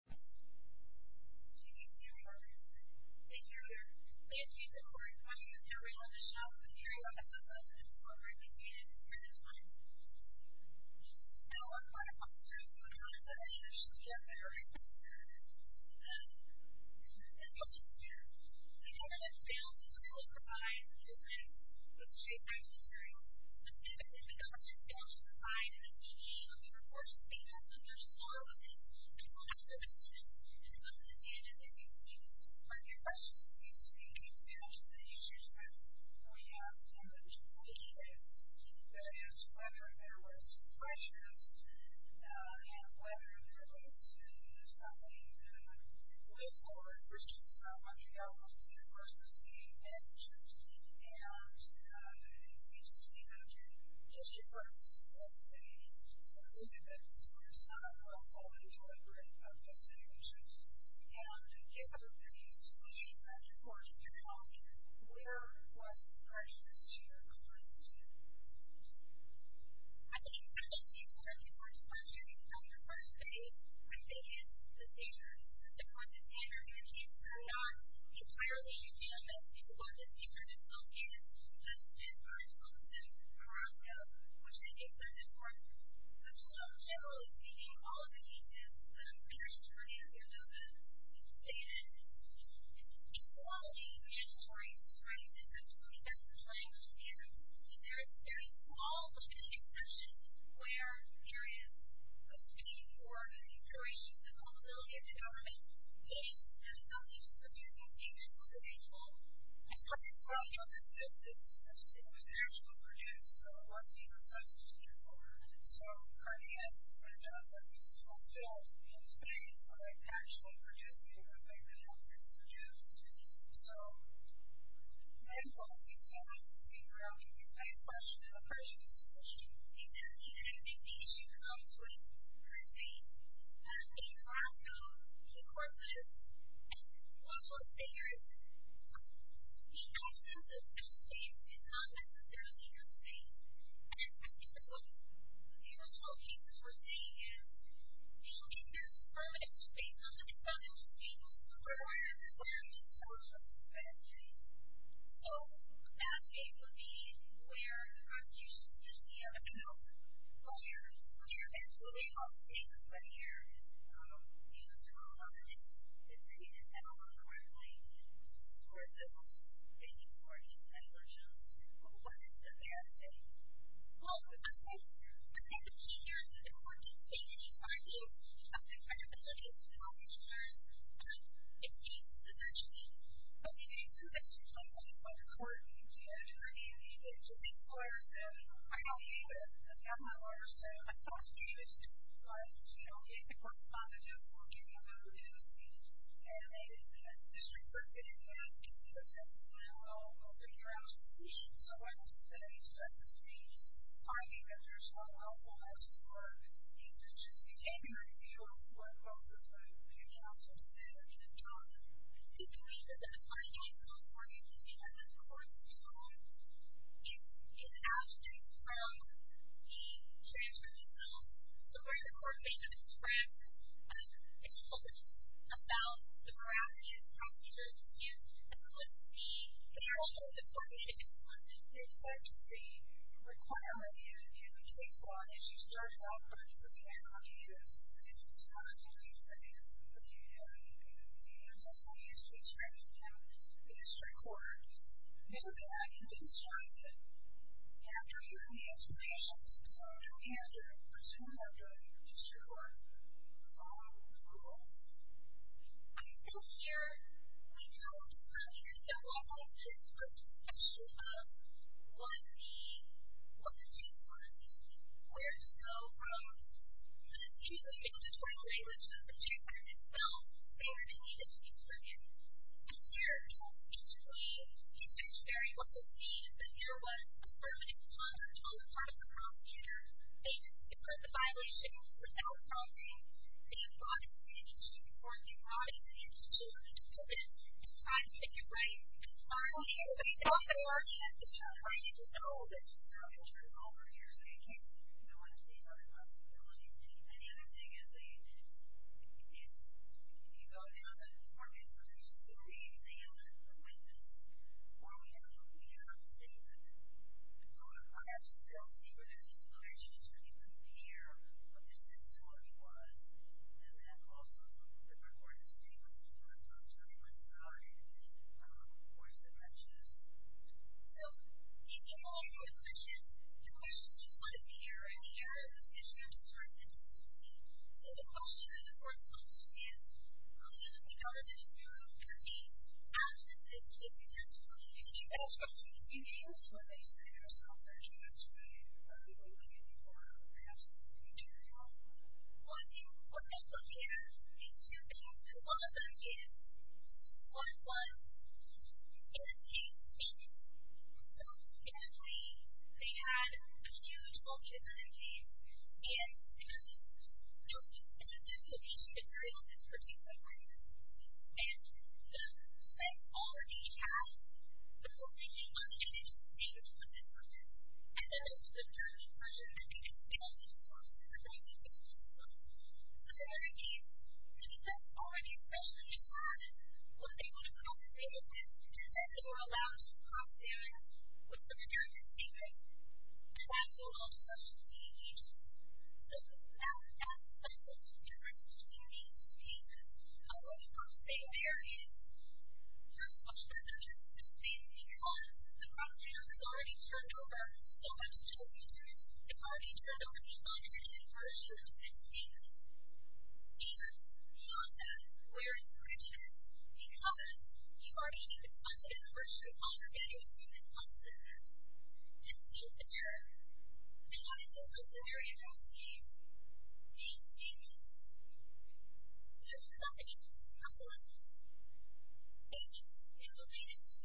She meets Mary Arbogast. Thank you, Rear. Thank you, the Court. My name is Mary Arbogast. I'm with the Mary Arbogast Club, and I'm a former AP student here in Illinois. I work for the Public Service and the Content Administration, and I'm a retired public servant in the Public Service. And I'm a teacher. The government fails to provide the business with cheap, nice materials. Specifically, the government fails to provide an AP game of the reports because of their slur on it. It's a little bit of a myth. And I'm going to hand it back to you. This is a perfect question. It seems to me it's one of the issues that we ask in the judicial case, that is, whether there was prejudice and whether there was something that underpinned it. We have a whole lot of questions about Montreal, Montana, versus game managers, and it seems to me that the issue was a movement that was focused on the quality and delivery of the simulations, and it was a pretty squishy regulatory terminology. Where was the prejudice here coming into it? I think it speaks more to the court's question. On your first day, my day is the seizure. The court's standard in the case, it's not entirely a UDMS. It's one that's international, and it's been very inclusive for a while, which I think is very important. Montreal, in general, is meeting all of the cases. Prejudice is pretty obvious. There's a stated equality, mandatory, straight, discriminatory language standards, and there is very small limited exception where there is a need for the inclusion, the culmability of the government, the games, and it's not easy to produce those game manuals at all. I was talking about the synthesis. It was actually produced. So, it wasn't even subsidized before. So, Cardenas and Genocide was fulfilled in the experience of actually producing what they really wanted to produce. So, equality standards, in general, it's a question of a prejudice question. Exactly. And I think the issue comes with, first of all, a platform, a corpus, and also a standard system. We know that the federal state is not necessarily a federal state, and I think that what the original cases were saying is, you know, if there's a permit, it will be based on the defunding of people's employers and where it's supposed to go to the federal state. So, a bad case would be where the prosecution is going to be able to come up with a lawyer, a lawyer that will be able to take a study here, use the rules on the case, and treat it at all accordingly, or is this all just thinking toward the federal jurisdiction? What is the bad case? Well, I think the key here is that the court didn't make any argument of the credibility of the prosecutors. It states essentially what the case is, and it's not something that the court needs to have an argument. It just makes lawyers say, I don't need a government lawyer, so I don't want to do this. But, you know, maybe the court's fine with just working on those legal schemes, and maybe the district court didn't ask, you know, just, you know, I'll figure out a solution. So, why does the state specifically argue that there's not helpfulness, or is this just an angry view of what both of the counsels said? I mean, it's not. I think the reason that the finding is so important is because the court's ruling is abstract from the transcript itself. So, where the court may have expressed an impulse about the veracity of the prosecutor's excuse, that wouldn't be helpful. The court may have expressed an impetus, but the requirement in the case law is you start it off virtually, and how do you use it? And if it's not something that is, you know, you're just not used to describing to the district court, maybe the argument didn't strike them. After hearing the explanations, so do we have to return that jury to the district court and move on with the rules? I feel scared. We don't. I mean, the case law has this discussion of what the case was, where to go from an excuse that you may be able to turn away, which is the protect act itself. They already need it to be certain. But here, you know, basically, you can just very well say that there was a permanent contact on the part of the prosecutor. They just deferred the violation without prompting. The court may have brought it to the institute, and it's time to get it right. It's time to get it right. It's time to just know that you're not going to turn it over and you're saying, you know what, these are the possibilities. And the other thing is that you can go down the market and say, well, we examined the witness, or we have a clear statement. So, I actually don't see where there's a clear statement that you couldn't be here, but this is what he was. And then, also, the recorded statement, which I'm sorry, went to the audit committee, of course, that mentioned this. So, in all of the questions, the question is, what is the error? And the error is that you have to start at the 10-20. So, the question that the court is going to ask is, we know that if you prove your case, absent this case in 10-20, do you think that's going to be the case? Do you think that's what they say? I think that's what they're asking. I think they're asking if you're looking for perhaps material. What I'm looking at, these two things, one of them is, what was in the case, and so, technically, they had a huge multi-defendant case, and there was a set of evidence of each material in this particular case. And the defense already had a court reading on the indigent statement with this on this, and that it was the indigent person that made the statement, and the source is the writing of the indigent source. So, in that case, the defense already, especially in the audit, was able to cross-state the case, and they were allowed to cross-state it with some indigent statement, and that's a lot of such state agents. So, that sets up some difference between these two cases. I want to first say there is, first of all, because the cross-statement was already turned over, so I have to tell you, too, it already turned over the indigent version of this statement. And, beyond that, where is the richness? Because you already have the kind of indigent version of how you're getting a human cost benefit. And so, there, they had a deliberate scenario in this case. These statements, those claims, agents, and related to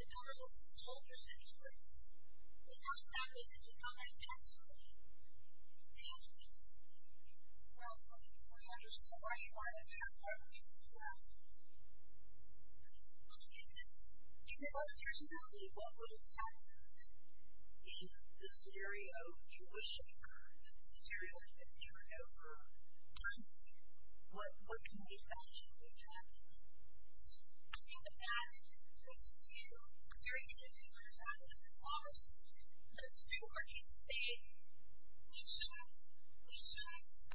the commercial soldiers in England, they found that they had become a tax relief. And, well, I don't understand why you want to turn over the indigent version. Well, to begin with, do you know, personally, what would have happened in the scenario in which we should have heard that the material had been turned over and what can be done to improve that? I think the bad thing is, as opposed to a very consistent sort of cross-statement, as long as it's true, our case is saying we shouldn't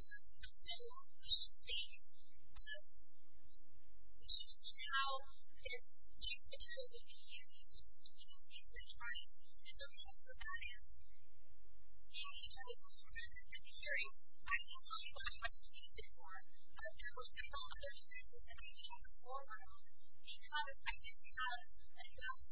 assume, we shouldn't think, but we should see how it takes material to be used and we don't need to be trying to implement those kinds of ideas in each other's services. And, in theory, I can't tell you what I would have used it for if there were several other services that I could check for because I didn't have enough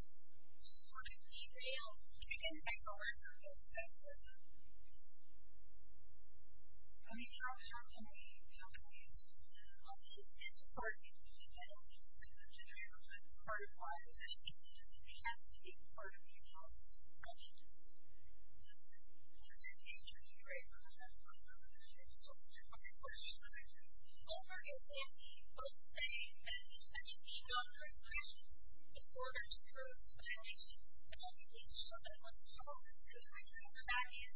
sort of material to get it back over and through that system. Let me draw your attention to the appeal case. Obviously, it's a part of the agency. I don't just think it's a part of the agency. It has to be a part of the agency's functions. I'm going to interject a little bit. I'm going to interrupt you. I'm going to question the agency. I'm going to get Nancy both saying that it's going to be non-critical questions in order to prove the violation. I'm going to get Nancy to show that it wasn't false. The reason for that is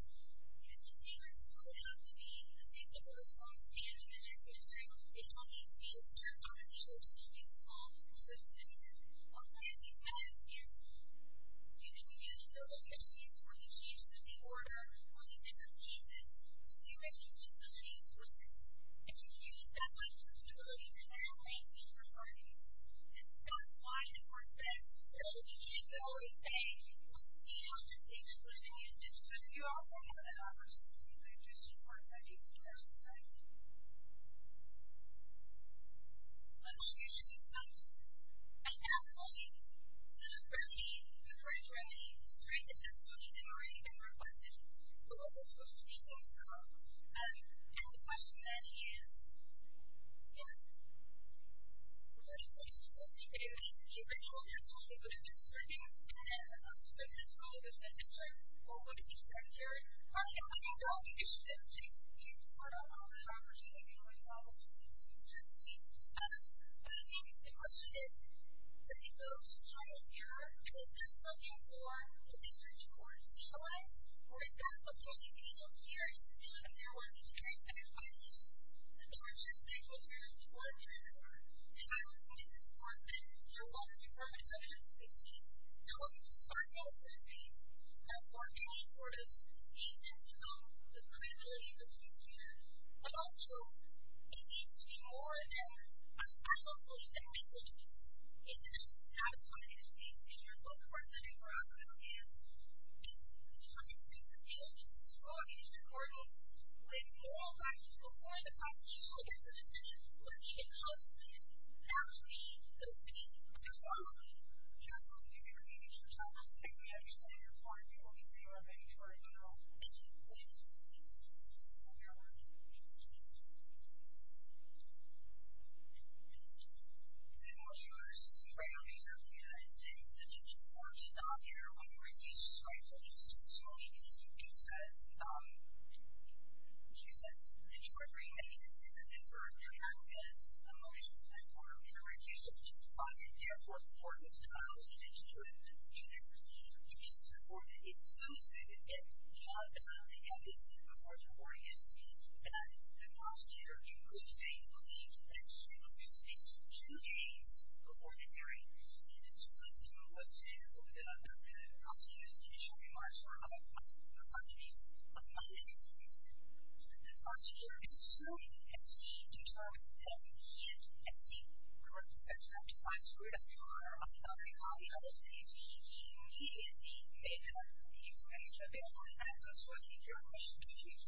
the insurance doesn't have to be a big, big, large, standing agency. It only needs to be a certain kind of agency to be used on a consistent basis. One thing that we've had is you can use those agencies for the changes of the order or the different pieces to see what the feasibility is with this. And you can use that flexibility to now make different arguments. And so that's why the court said that what we needed to always say was to see how the statement would have been used. But you also have an opportunity to do that just in part so that you can reverse the cycle. Let me ask you a few questions. I have one. Bernie, the first remedy, strengthens voting memory, and requests the local social media platform. And the question that he is... Yeah. Bernie, what do you think? Do you think that children's vote would have been serving in an unsupervised school? Would it have been better? Or would it have been better? Are you looking to audition them? Do you want to offer an opportunity for the college students to be able to do that? I think that's a good question. I think the social media platform is very important to the college. For example, if you look here, you can see that there wasn't a transgender population. There were transsexual children in the court of transfer. And I would say to the court that there wasn't a department that had 16. There wasn't a department that had 15. That's part of any sort of scheme that's involved in the credibility of the police team. But also, it needs to be more than a special school that actually exists. It doesn't have to be in your local court setting where I'm sitting with you. It needs to be a place where children's voices are heard in the courtrooms with all classes before the class that you will get the decision. Let me get close to you. That would be the key. Next slide, please. Justin, if you can see me, can you tell me if you can understand your time? Do you want me to say one thing before I turn it down? Thank you. Please. Go ahead. Next slide. Welcome to our first round here of the United States Statistician for talking about there are really court house advocates and judicial institutions who govern This citizen really have had a lot of emotional and moral care reduced and therefore important psychology and intuitive communication support is so significant that the prosecutor in good faith believed that it should have been stated two days before the hearing and this was the prosecutor's initial remarks on Monday Tuesday that the prosecutor is so insistent that he can't accept my script or my copy of the case he and he made up the information available at the court of judicial context was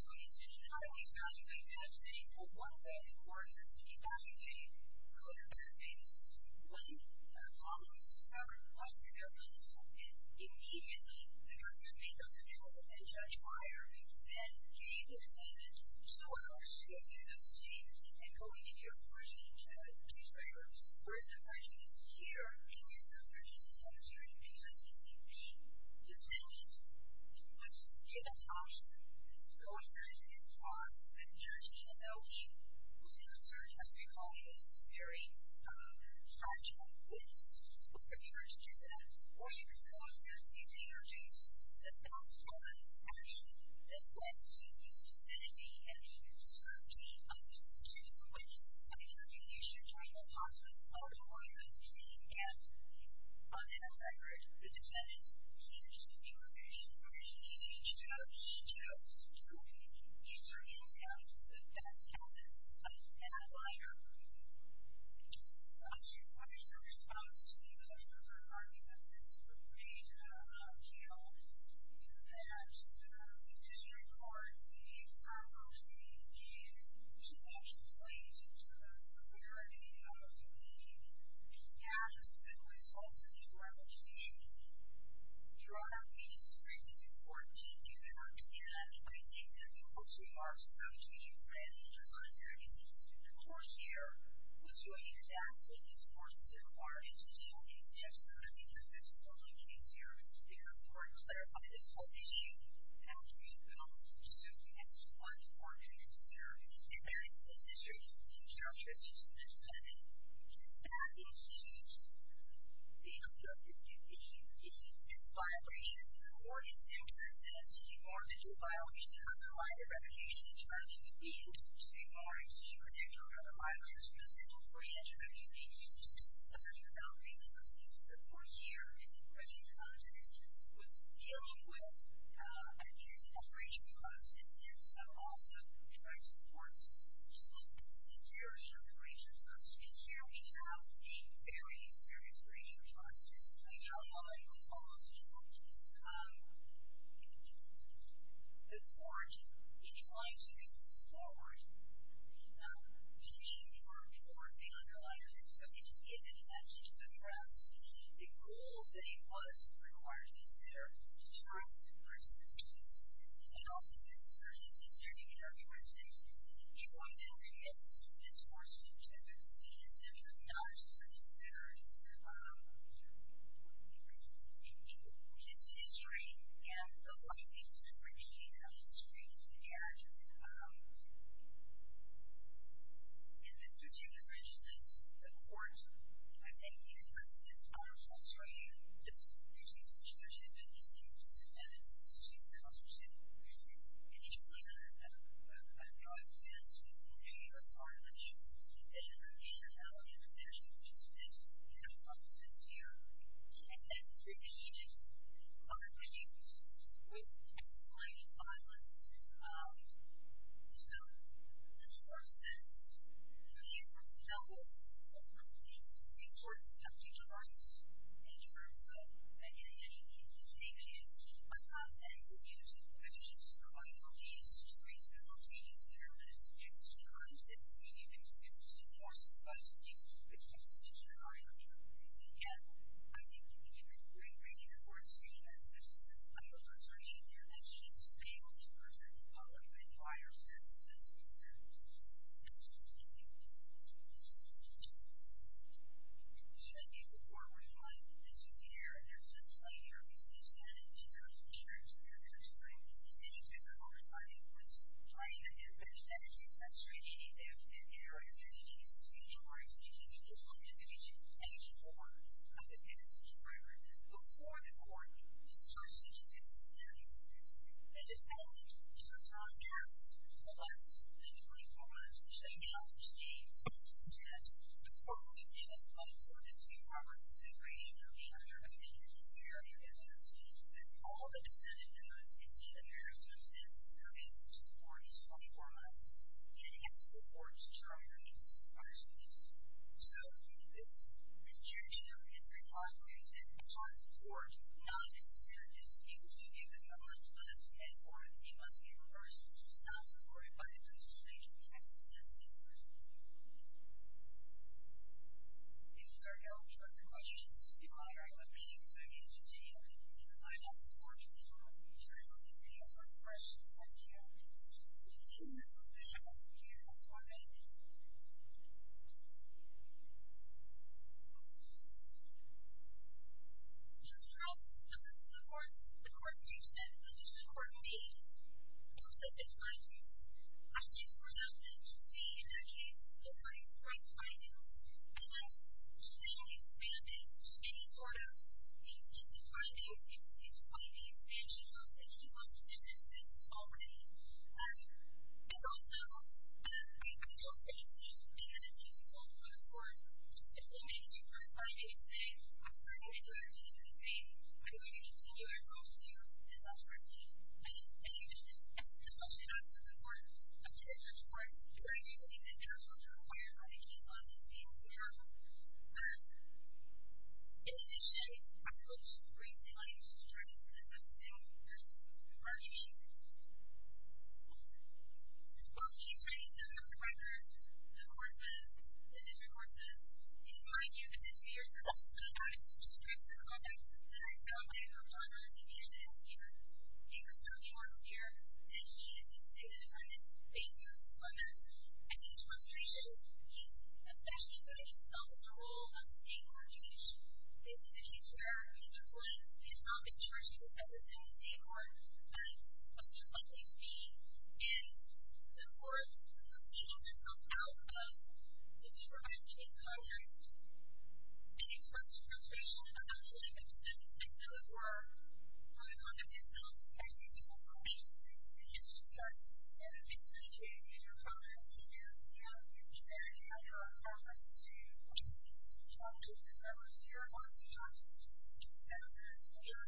dealing with a new separation clause and there's an awesome contract towards security of the ratio clause and here we have a very serious ratio clause and the court in trying to move forward in seeking to approve this new clause the hearing was adjourned. Thank you. Thank you.